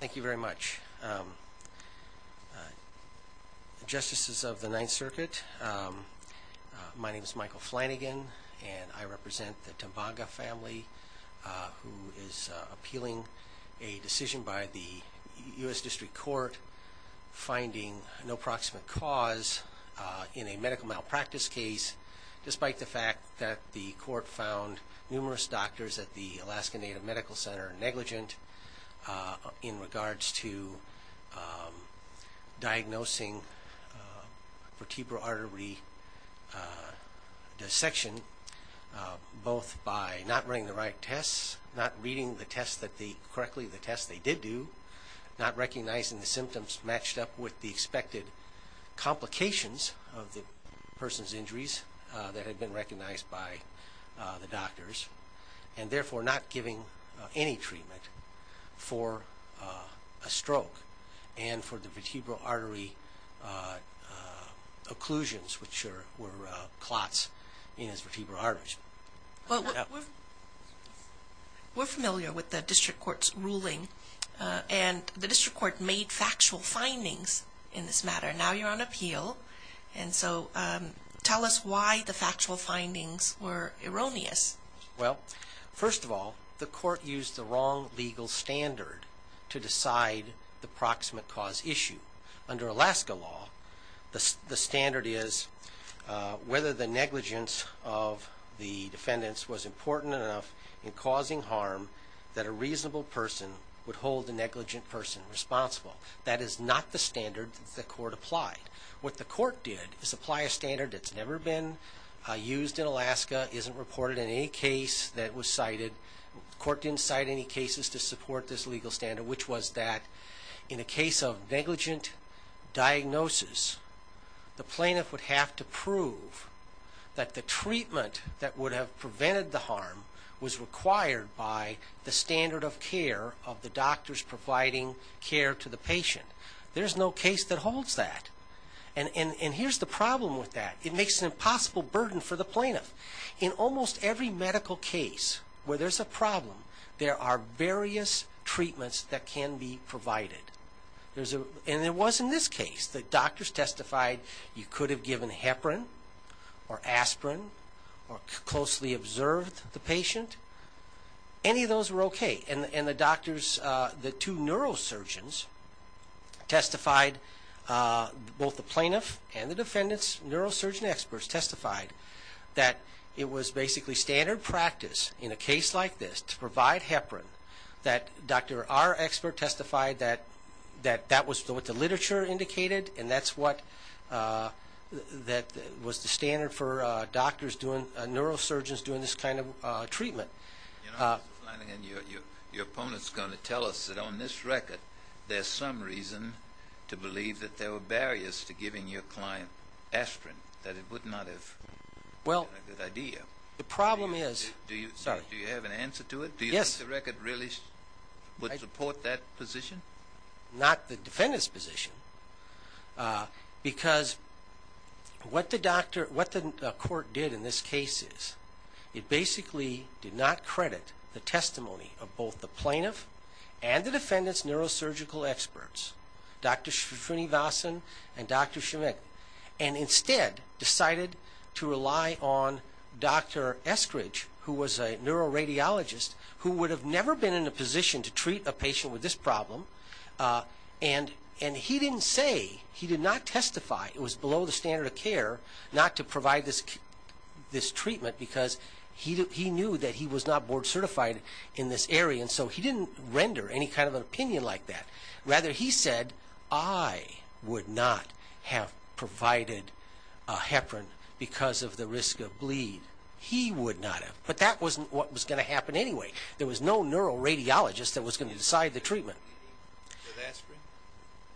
Thank you very much. Justices of the Ninth Circuit, my name is Michael Flanagan and I represent the Tumbaga family who is appealing a decision by the U.S. District Court finding no proximate cause in a medical malpractice case despite the fact that the court found numerous doctors at the Alaskan Native Medical Center negligent in regards to diagnosing vertebral artery dissection both by not running the right tests, not reading the tests correctly, the tests they did do, not recognizing the symptoms matched up with the expected complications of the person's injuries that had been recognized by the doctors and therefore not giving any treatment for a stroke and for the vertebral artery occlusions which were clots in his vertebral arteries. We're familiar with the District Court's ruling and the District Court made factual findings in this matter. Now you're on appeal and so tell us why the factual findings were erroneous. Well, first of all, the court used the wrong legal standard to decide the proximate cause issue. Under Alaska law, the standard is whether the negligence of the defendants was important enough in causing harm that a reasonable person would hold the negligent person responsible. That is not the standard that the court applied. What the court did is apply a standard that's never been used in Alaska, isn't reported in any case that was cited. The court didn't cite any cases to support this legal standard which was that in a case of negligent diagnosis, the plaintiff would have to prove that the treatment that would have prevented the harm was required by the standard of care of the doctors providing care to the patient. There's no case that holds that. And here's the problem with that. It makes an impossible burden for the plaintiff. In almost every medical case where there's a problem, there are various treatments that can be provided. And there was in this case. The doctors testified you could have given heparin or aspirin or closely observed the patient. Any of those were okay. And the doctors, the two neurosurgeons testified, both the plaintiff and the defendants, neurosurgeon experts testified that it was basically standard practice in a case like this to provide heparin that Dr. R. Expert testified that that was what the literature indicated and that's what was the standard for doctors doing, neurosurgeons doing this kind of treatment. You know, Mr. Flanagan, your opponent's going to tell us that on this record there's some reason to believe that there were barriers to giving your client aspirin, that it would not have been a good idea. The problem is... Do you have an answer to it? Yes. Do you think the record really would support that position? Not the defendant's position, because what the court did in this case is it basically did not credit the testimony of both the plaintiff and the defendant's neurosurgical experts, Dr. Shifrini Vasan and Dr. Shemek, and instead decided to rely on Dr. Eskridge, who was a neuroradiologist, who would have never been in a position to treat a patient with this problem, and he didn't say, he did not testify, it was below the standard of care not to provide this treatment because he knew that he was not board certified in this area, and so he didn't render any kind of an opinion like that. Rather, he said, I would not have provided heparin because of the risk of bleed. He would not have. But that wasn't what was going to happen anyway. There was no neuroradiologist that was going to decide the treatment.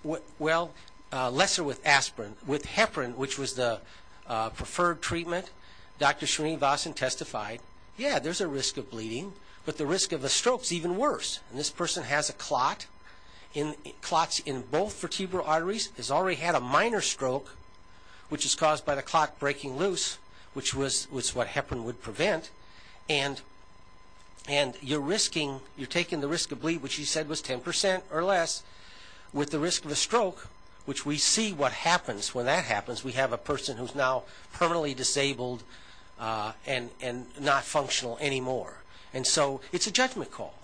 Bleeding with aspirin? Well, lesser with aspirin. With heparin, which was the preferred treatment, Dr. Shifrini Vasan testified, yeah, there's a risk of bleeding, but the risk of a stroke is even worse. This person has a clot, clots in both vertebral arteries, has already had a minor stroke, which is caused by the clot breaking loose, which was what heparin would prevent, and you're taking the risk of bleed, which he said was 10% or less, with the risk of a stroke, which we see what happens when that happens. We have a person who's now permanently disabled and not functional anymore, and so it's a judgment call.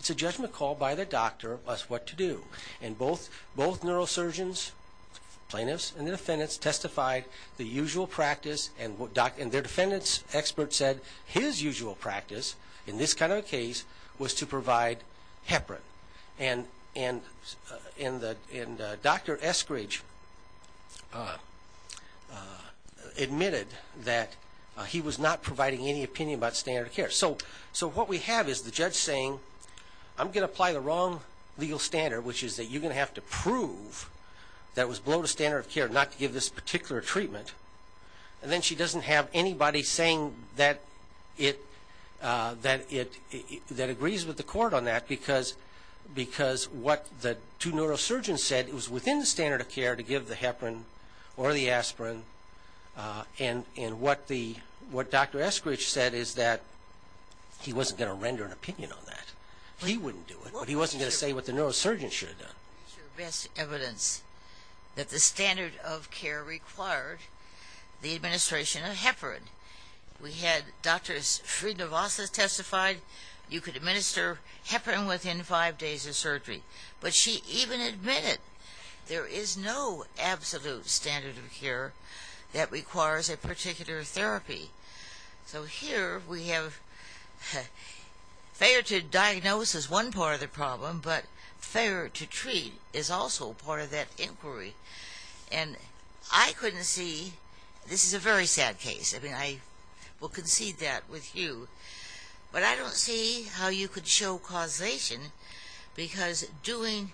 It's a judgment call by the doctor as to what to do, and both neurosurgeons, plaintiffs, and the defendants testified the usual practice, and their defendant's expert said his usual practice, in this kind of a case, was to provide heparin. And Dr. Eskridge admitted that he was not providing any opinion about standard of care. So what we have is the judge saying, I'm going to apply the wrong legal standard, which is that you're going to have to prove that it was below the standard of care not to give this particular treatment, and then she doesn't have anybody saying that it, that it, that agrees with the court on that, because, because what the two neurosurgeons said, it was within the standard of care to give the heparin or the aspirin, and what the, what Dr. Eskridge said is that he wasn't going to render an opinion on that. He wouldn't do it, but he wasn't going to say what the neurosurgeon should have done. ...best evidence that the standard of care required the administration of heparin. We had Dr. Frieda Vassa testified, you could administer heparin within five days of surgery, but she even admitted there is no absolute standard of care that requires a particular therapy. So here we have, fair to diagnose is one part of the problem, but fair to treat is also part of that inquiry, and I couldn't see, this is a very sad case, I mean I will concede that with you, but I don't see how you could show causation, because doing,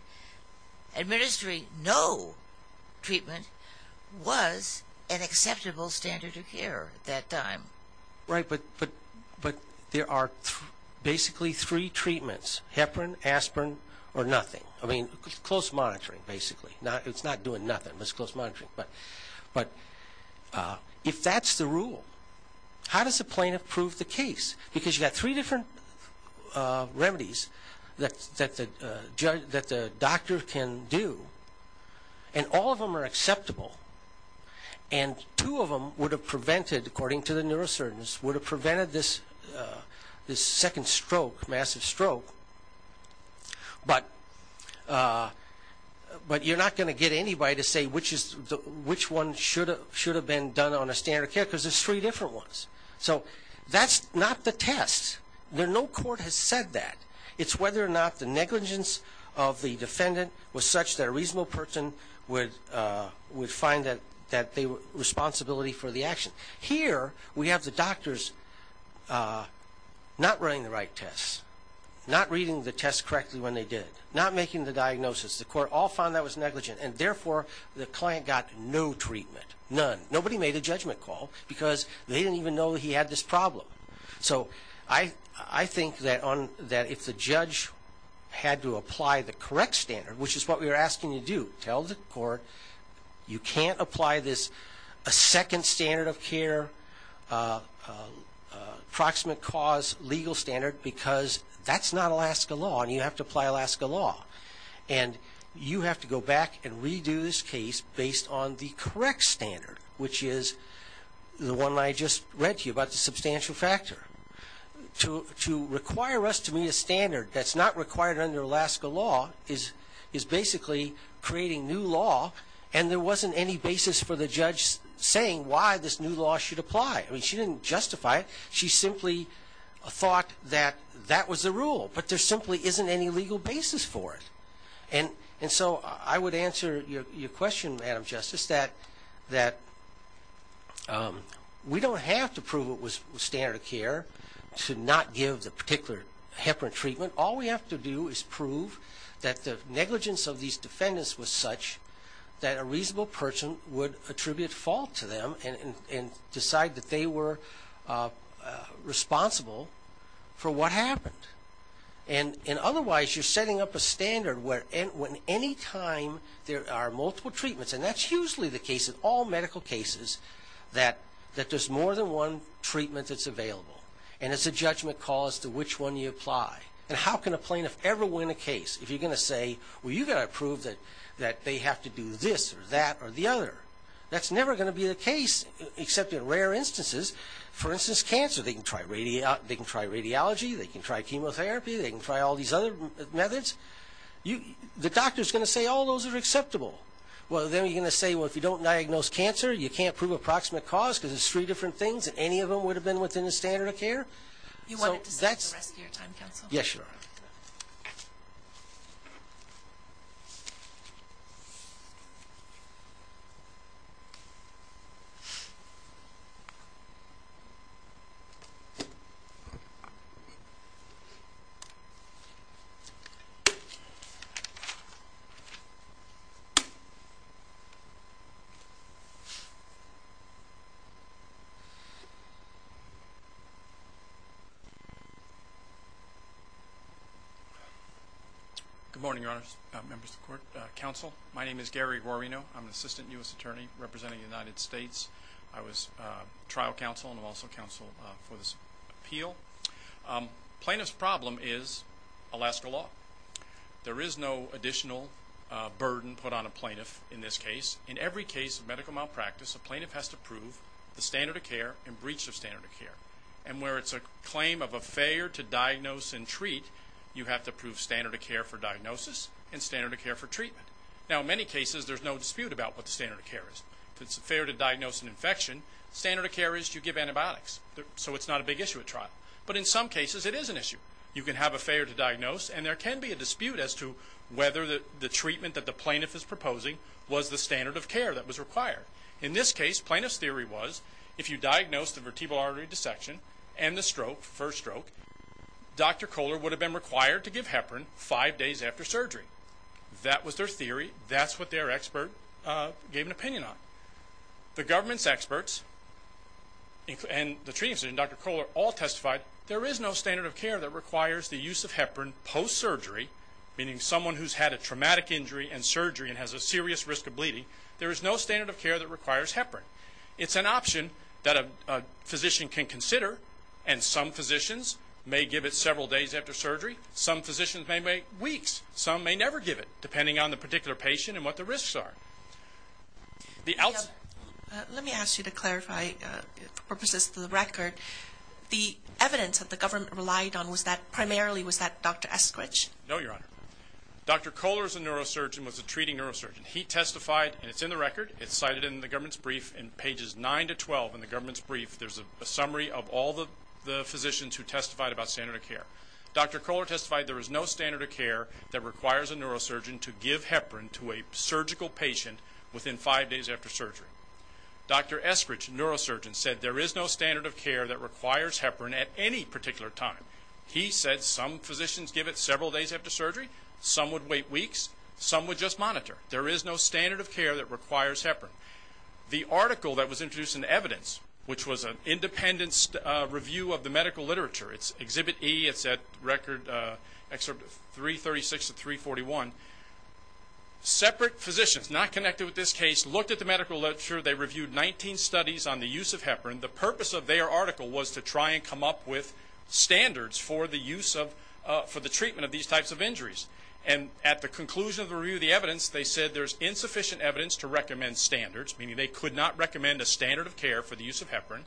administering no treatment was an acceptable standard of care, at that time. Right, but there are basically three treatments, heparin, aspirin, or nothing. I mean, close monitoring basically. It's not doing nothing, it's close monitoring. But if that's the rule, how does the plaintiff prove the case? Because you've got three different remedies that the doctor can do, and all of them are acceptable, and two of them would have prevented, according to the neurosurgeons, would have prevented this second stroke, massive stroke, but you're not going to get anybody to say which one should have been done on a standard of care, because there's three different ones. So that's not the test. No court has said that. It's whether or not the negligence of the defendant was such that a reasonable person would find that responsibility for the action. Here, we have the doctors not running the right tests, not reading the tests correctly when they did it, not making the diagnosis. The court all found that was negligent, and therefore the client got no treatment, none. Nobody made a judgment call, because they didn't even know he had this problem. So I think that if the judge had to apply the correct standard, which is what we were asking you to do, tell the court you can't apply this second standard of care, proximate cause legal standard, because that's not Alaska law, and you have to apply Alaska law. And you have to go back and redo this case based on the correct standard, which is the one I just read to you about the substantial factor. To require us to meet a standard that's not required under Alaska law is basically creating new law, and there wasn't any basis for the judge saying why this new law should apply. I mean, she didn't justify it. She simply thought that that was the rule. But there simply isn't any legal basis for it. And so I would answer your question, Madam Justice, that we don't have to prove it was standard of care to not give the particular heparin treatment. All we have to do is prove that the negligence of these defendants was such that a reasonable person would attribute fault to them and decide that they were responsible for what happened. And otherwise, you're setting up a standard where any time there are multiple treatments, and that's usually the case in all medical cases, that there's more than one treatment that's available, and it's a judgment call as to which one you apply. And how can a plaintiff ever win a case if you're going to say, well, you've got to prove that they have to do this or that or the other? That's never going to be the case, except in rare instances. For instance, cancer. They can try radiology. They can try chemotherapy. They can try all these other methods. The doctor's going to say all those are acceptable. Well, then you're going to say, well, if you don't diagnose cancer, you can't prove approximate cause because it's three different things, and any of them would have been within the standard of care. Do you want to discuss the rest of your time, counsel? Yes, sure. Good morning, Your Honors, members of the court, counsel. My name is Gary Guarino. I'm an assistant U.S. attorney representing the United States. I was trial counsel and I'm also counsel for this appeal. Plaintiff's problem is Alaska law. There is no additional burden put on a plaintiff in this case. In every case of medical malpractice, a plaintiff has to prove the standard of care and breach of standard of care. And where it's a claim of a failure to diagnose and treat, you have to prove standard of care for diagnosis and standard of care for treatment. Now, in many cases, there's no dispute about what the standard of care is. If it's a failure to diagnose an infection, standard of care is you give antibiotics. So it's not a big issue at trial. But in some cases, it is an issue. You can have a failure to diagnose, and there can be a dispute as to whether the treatment that the plaintiff is proposing was the standard of care that was required. In this case, plaintiff's theory was if you diagnose the vertebral artery dissection and the stroke, first stroke, Dr. Kohler would have been required to give heparin five days after surgery. That was their theory. That's what their expert gave an opinion on. The government's experts and the treatment center and Dr. Kohler all testified there is no standard of care that requires the use of heparin post-surgery, meaning someone who's had a traumatic injury and surgery and has a serious risk of bleeding. There is no standard of care that requires heparin. It's an option that a physician can consider, and some physicians may give it several days after surgery. Some physicians may wait weeks. Some may never give it, depending on the particular patient and what the risks are. Let me ask you to clarify for purposes of the record. The evidence that the government relied on primarily was that Dr. Eskridge? No, Your Honor. Dr. Kohler is a neurosurgeon, was a treating neurosurgeon. He testified, and it's in the record, it's cited in the government's brief. In pages 9 to 12 in the government's brief, there's a summary of all the physicians who testified about standard of care. Dr. Kohler testified there is no standard of care that requires a neurosurgeon to give heparin to a surgical patient within five days after surgery. Dr. Eskridge, neurosurgeon, said there is no standard of care that requires heparin at any particular time. He said some physicians give it several days after surgery. Some would wait weeks. Some would just monitor. There is no standard of care that requires heparin. The article that was introduced in the evidence, which was an independent review of the medical literature, it's Exhibit E. It's at Record Excerpt 336 to 341. Separate physicians not connected with this case looked at the medical literature. They reviewed 19 studies on the use of heparin. The purpose of their article was to try and come up with standards for the use of, for the treatment of these types of injuries. At the conclusion of the review of the evidence, they said there is insufficient evidence to recommend standards, meaning they could not recommend a standard of care for the use of heparin.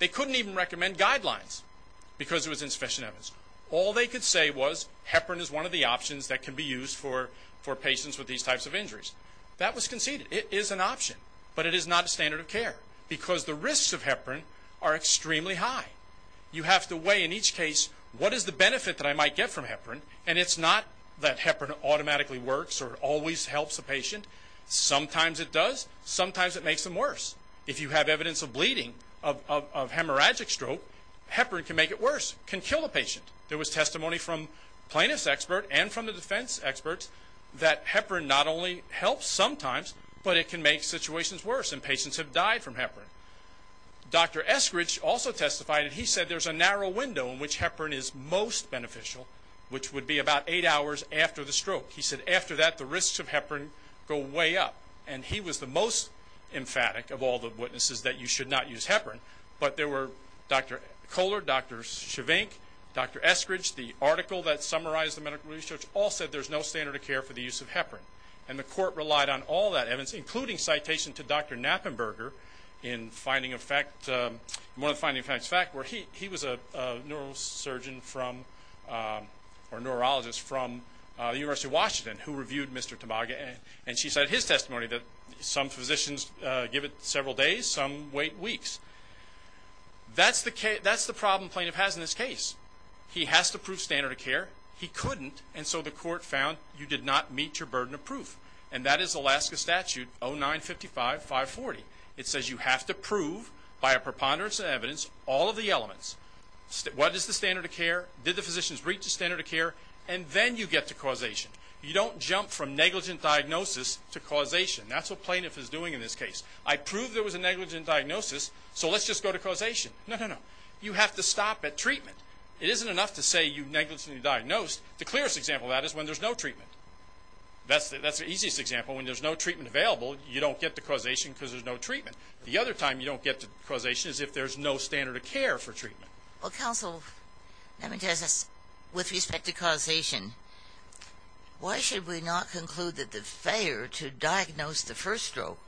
They couldn't even recommend guidelines because there was insufficient evidence. All they could say was heparin is one of the options that can be used for patients with these types of injuries. That was conceded. It is an option, but it is not a standard of care because the risks of heparin are extremely high. You have to weigh in each case what is the benefit that I might get from heparin, and it's not that heparin automatically works or always helps a patient. Sometimes it does. Sometimes it makes them worse. If you have evidence of bleeding, of hemorrhagic stroke, heparin can make it worse, can kill a patient. There was testimony from plaintiffs' experts and from the defense experts that heparin not only helps sometimes, but it can make situations worse, and patients have died from heparin. Dr. Eskridge also testified, and he said there's a narrow window in which heparin is most beneficial, which would be about eight hours after the stroke. He said after that the risks of heparin go way up, and he was the most emphatic of all the witnesses that you should not use heparin. But there were Dr. Kohler, Dr. Chevinck, Dr. Eskridge, the article that summarized the medical research, all said there's no standard of care for the use of heparin, and the court relied on all that evidence, including citation to Dr. Knappenberger in one of the finding of facts facts where he was a neurosurgeon or neurologist from the University of Washington who reviewed Mr. Tamaga, and she said in his testimony that some physicians give it several days, some wait weeks. That's the problem plaintiff has in this case. He has to prove standard of care. He couldn't, and so the court found you did not meet your burden of proof, and that is Alaska Statute 0955-540. It says you have to prove by a preponderance of evidence all of the elements. What is the standard of care? Did the physicians reach the standard of care? And then you get to causation. You don't jump from negligent diagnosis to causation. That's what plaintiff is doing in this case. I proved there was a negligent diagnosis, so let's just go to causation. No, no, no. You have to stop at treatment. It isn't enough to say you negligently diagnosed. The clearest example of that is when there's no treatment. That's the easiest example. When there's no treatment available, you don't get to causation because there's no treatment. The other time you don't get to causation is if there's no standard of care for treatment. Well, counsel, let me ask this. With respect to causation, why should we not conclude that the failure to diagnose the first stroke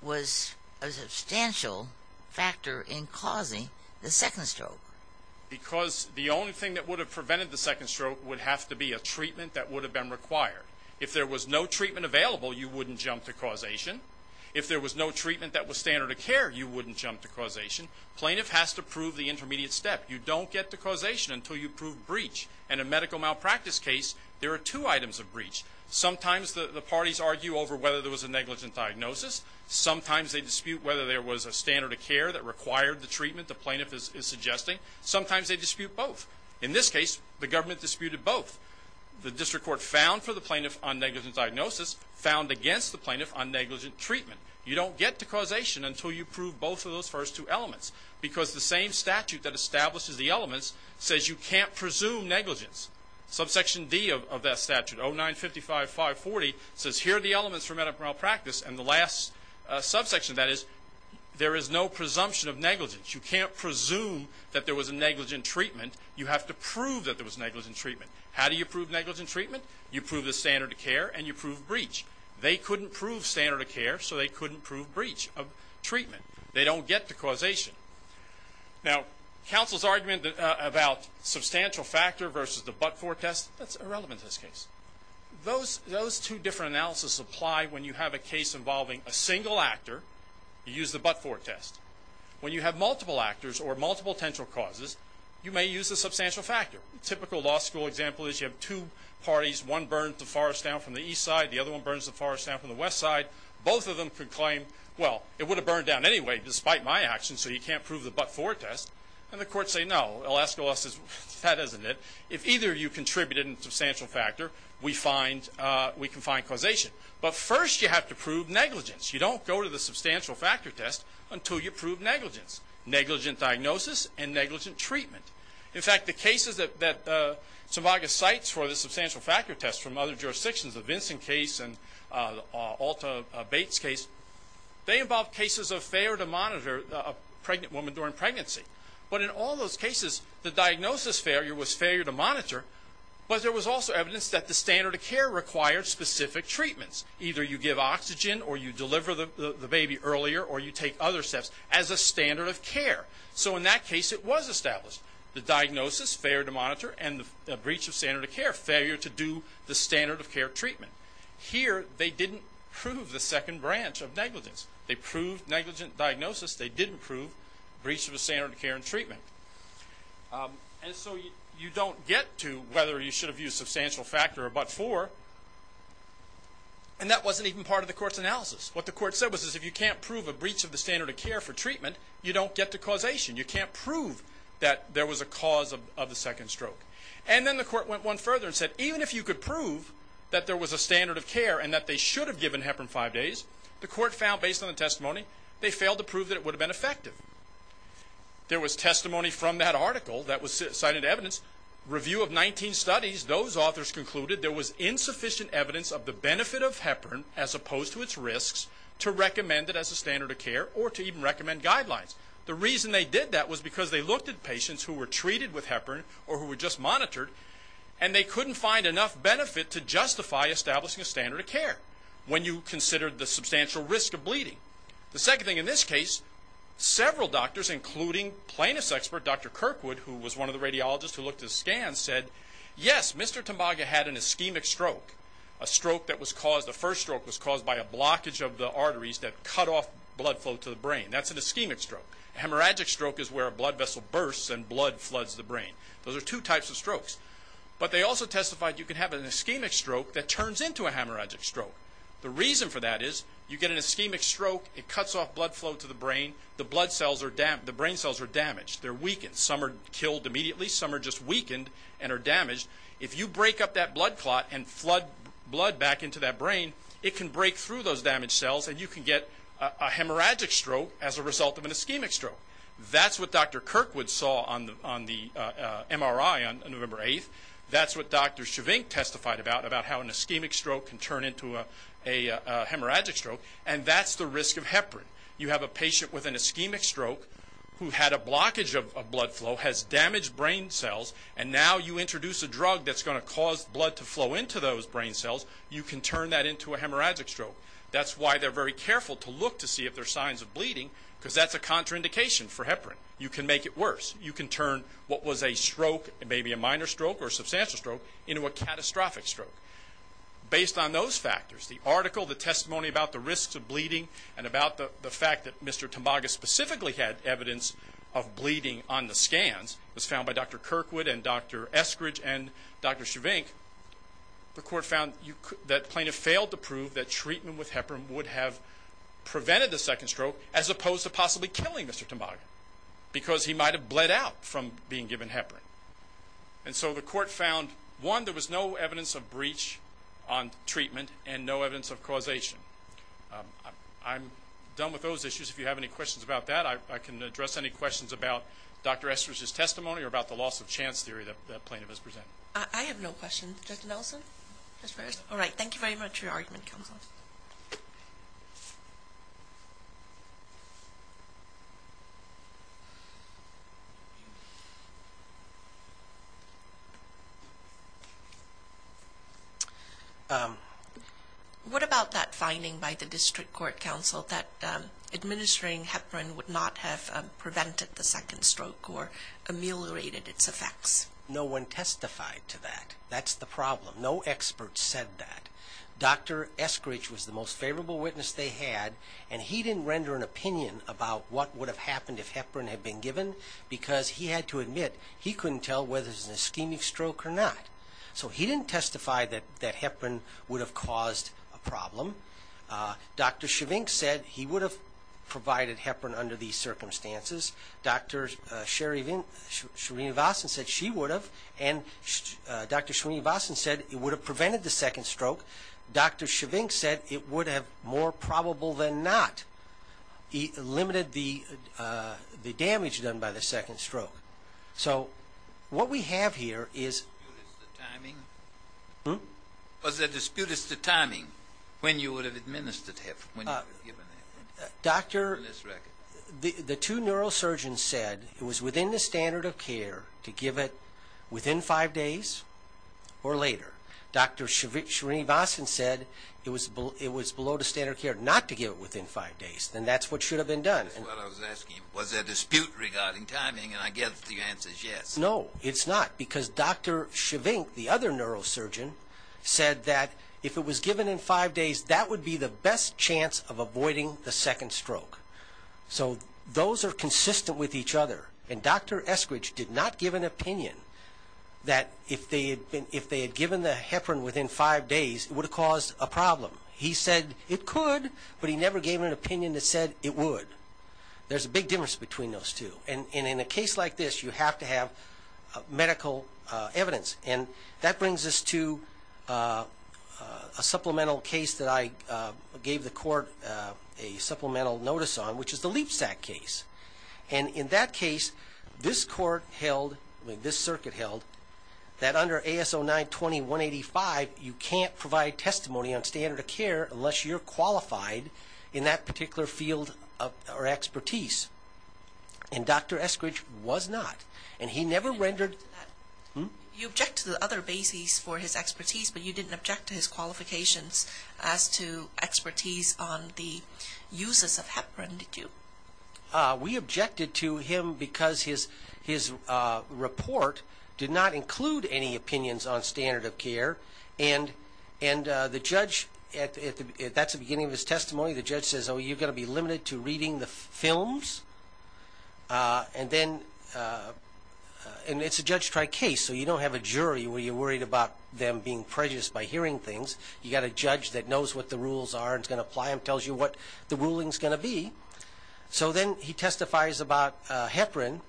was a substantial factor in causing the second stroke? Because the only thing that would have prevented the second stroke would have to be a treatment that would have been required. If there was no treatment available, you wouldn't jump to causation. If there was no treatment that was standard of care, you wouldn't jump to causation. Plaintiff has to prove the intermediate step. You don't get to causation until you prove breach. In a medical malpractice case, there are two items of breach. Sometimes the parties argue over whether there was a negligent diagnosis. Sometimes they dispute whether there was a standard of care that required the treatment the plaintiff is suggesting. Sometimes they dispute both. In this case, the government disputed both. The district court found for the plaintiff on negligent diagnosis, found against the plaintiff on negligent treatment. You don't get to causation until you prove both of those first two elements because the same statute that establishes the elements says you can't presume negligence. Subsection D of that statute, 0955540, says here are the elements for medical malpractice, and the last subsection of that is there is no presumption of negligence. You can't presume that there was a negligent treatment. You have to prove that there was a negligent treatment. How do you prove negligent treatment? You prove the standard of care and you prove breach. They couldn't prove standard of care, so they couldn't prove breach of treatment. They don't get to causation. Now, counsel's argument about substantial factor versus the but-for test, that's irrelevant in this case. Those two different analysis apply when you have a case involving a single actor. You use the but-for test. When you have multiple actors or multiple potential causes, you may use the substantial factor. A typical law school example is you have two parties. One burns the forest down from the east side. The other one burns the forest down from the west side. Both of them could claim, well, it would have burned down anyway despite my actions, so you can't prove the but-for test, and the courts say no. They'll ask, well, that isn't it. If either of you contributed a substantial factor, we can find causation. But first you have to prove negligence. You don't go to the substantial factor test until you prove negligence, negligent diagnosis and negligent treatment. In fact, the cases that Zimbages cites for the substantial factor test from other jurisdictions, the Vinson case and Alta-Bates case, they involve cases of failure to monitor a pregnant woman during pregnancy. But in all those cases, the diagnosis failure was failure to monitor, but there was also evidence that the standard of care required specific treatments. Either you give oxygen or you deliver the baby earlier or you take other steps as a standard of care. So in that case it was established. The diagnosis, failure to monitor, and the breach of standard of care, failure to do the standard of care treatment. Here they didn't prove the second branch of negligence. They proved negligent diagnosis. They didn't prove breach of the standard of care and treatment. And so you don't get to whether you should have used substantial factor or but-for, and that wasn't even part of the court's analysis. What the court said was if you can't prove a breach of the standard of care for treatment, you don't get to causation. You can't prove that there was a cause of the second stroke. And then the court went one further and said even if you could prove that there was a standard of care and that they should have given heparin five days, the court found based on the testimony they failed to prove that it would have been effective. There was testimony from that article that was cited in evidence. Review of 19 studies, those authors concluded there was insufficient evidence of the benefit of heparin as opposed to its risks to recommend it as a standard of care or to even recommend guidelines. The reason they did that was because they looked at patients who were treated with heparin or who were just monitored, and they couldn't find enough benefit to justify establishing a standard of care when you considered the substantial risk of bleeding. The second thing in this case, several doctors, including plaintiff's expert Dr. Kirkwood, who was one of the radiologists who looked at the scans, said yes, Mr. Tambaga had an ischemic stroke, a stroke that was caused, the first stroke was caused by a blockage of the arteries that cut off blood flow to the brain. That's an ischemic stroke. A hemorrhagic stroke is where a blood vessel bursts and blood floods the brain. Those are two types of strokes. But they also testified you can have an ischemic stroke that turns into a hemorrhagic stroke. The reason for that is you get an ischemic stroke, it cuts off blood flow to the brain, the brain cells are damaged, they're weakened. Some are killed immediately, some are just weakened and are damaged. If you break up that blood clot and flood blood back into that brain, it can break through those damaged cells and you can get a hemorrhagic stroke as a result of an ischemic stroke. That's what Dr. Kirkwood saw on the MRI on November 8th. That's what Dr. Chivink testified about, about how an ischemic stroke can turn into a hemorrhagic stroke. And that's the risk of heparin. You have a patient with an ischemic stroke who had a blockage of blood flow, has damaged brain cells, and now you introduce a drug that's going to cause blood to flow into those brain cells, you can turn that into a hemorrhagic stroke. That's why they're very careful to look to see if there are signs of bleeding because that's a contraindication for heparin. You can make it worse. You can turn what was a stroke, maybe a minor stroke or a substantial stroke, into a catastrophic stroke. Based on those factors, the article, the testimony about the risks of bleeding and about the fact that Mr. Tambaga specifically had evidence of bleeding on the scans, as found by Dr. Kirkwood and Dr. Eskridge and Dr. Chivink, the court found that plaintiff failed to prove that treatment with heparin would have prevented the second stroke as opposed to possibly killing Mr. Tambaga because he might have bled out from being given heparin. And so the court found, one, there was no evidence of breach on treatment and no evidence of causation. I'm done with those issues. If you have any questions about that, I can address any questions about Dr. Eskridge's testimony or about the loss of chance theory that plaintiff has presented. I have no questions. Judge Nelson? All right. Thank you very much for your argument, counsel. Thank you. What about that finding by the district court, counsel, that administering heparin would not have prevented the second stroke or ameliorated its effects? No one testified to that. That's the problem. No expert said that. Dr. Eskridge was the most favorable witness they had, and he didn't render an opinion about what would have happened if heparin had been given because he had to admit he couldn't tell whether it was an ischemic stroke or not. So he didn't testify that heparin would have caused a problem. Dr. Chivink said he would have provided heparin under these circumstances. Dr. Shreenivasan said she would have. And Dr. Shreenivasan said it would have prevented the second stroke. Dr. Chivink said it would have, more probable than not, limited the damage done by the second stroke. So what we have here is... Was there dispute as to timing when you would have administered heparin? The two neurosurgeons said it was within the standard of care to give it within five days or later. Dr. Shreenivasan said it was below the standard of care not to give it within five days. Then that's what should have been done. That's what I was asking. Was there dispute regarding timing? And I guess the answer is yes. No, it's not, because Dr. Chivink, the other neurosurgeon, said that if it was given in five days, that would be the best chance of avoiding the second stroke. So those are consistent with each other. And Dr. Eskridge did not give an opinion that if they had given the heparin within five days, it would have caused a problem. He said it could, but he never gave an opinion that said it would. There's a big difference between those two. And in a case like this, you have to have medical evidence. And that brings us to a supplemental case that I gave the court a supplemental notice on, which is the Leapsack case. And in that case, this circuit held that under AS09-20-185, you can't provide testimony on standard of care unless you're qualified in that particular field or expertise. And Dr. Eskridge was not. You object to the other bases for his expertise, but you didn't object to his qualifications as to expertise on the uses of heparin, did you? We objected to him because his report did not include any opinions on standard of care. And that's the beginning of his testimony. The judge says, oh, you're going to be limited to reading the films? And then it's a judge-tried case, so you don't have a jury where you're worried about them being prejudiced by hearing things. You've got a judge that knows what the rules are and is going to apply them, tells you what the ruling is going to be. So then he testifies about heparin.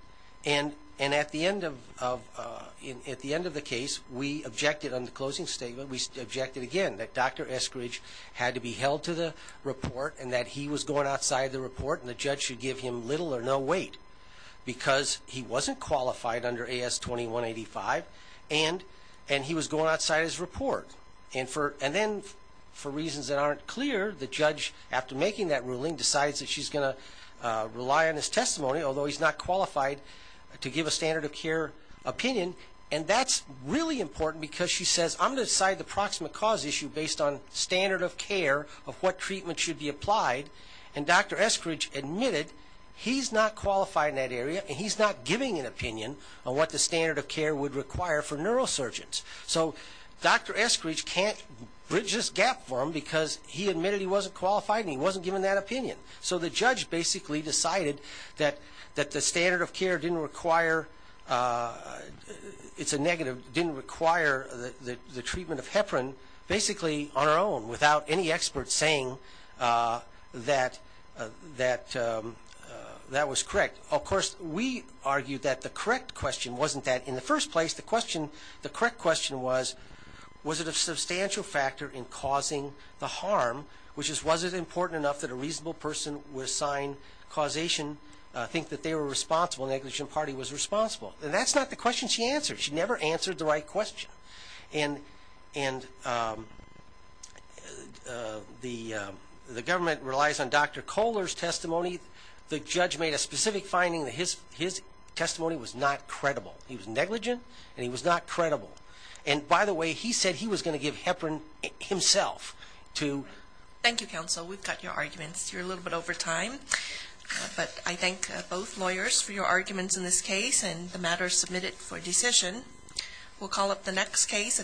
And at the end of the case, we objected on the closing statement. We objected again that Dr. Eskridge had to be held to the report and that he was going outside the report and the judge should give him little or no weight because he wasn't qualified under AS 2185 and he was going outside his report. And then, for reasons that aren't clear, the judge, after making that ruling, decides that she's going to rely on his testimony, although he's not qualified, to give a standard of care opinion. And that's really important because she says, I'm going to decide the proximate cause issue based on standard of care of what treatment should be applied. And Dr. Eskridge admitted he's not qualified in that area and he's not giving an opinion on what the standard of care would require for neurosurgeons. So Dr. Eskridge can't bridge this gap for him because he admitted he wasn't qualified and he wasn't given that opinion. So the judge basically decided that the standard of care didn't require it's a negative, didn't require the treatment of heparin, basically on her own, without any expert saying that that was correct. Of course, we argued that the correct question wasn't that. In the first place, the correct question was, was it a substantial factor in causing the harm, which is, was it important enough that a reasonable person would assign causation, think that they were responsible, the negligent party was responsible. And that's not the question she answered. She never answered the right question. And the government relies on Dr. Kohler's testimony. The judge made a specific finding that his testimony was not credible. He was negligent and he was not credible. And by the way, he said he was going to give heparin himself to... Thank you, counsel. We've got your arguments. You're a little bit over time. But I thank both lawyers for your arguments in this case and the matters submitted for decision. We'll call up the next case, Thank you.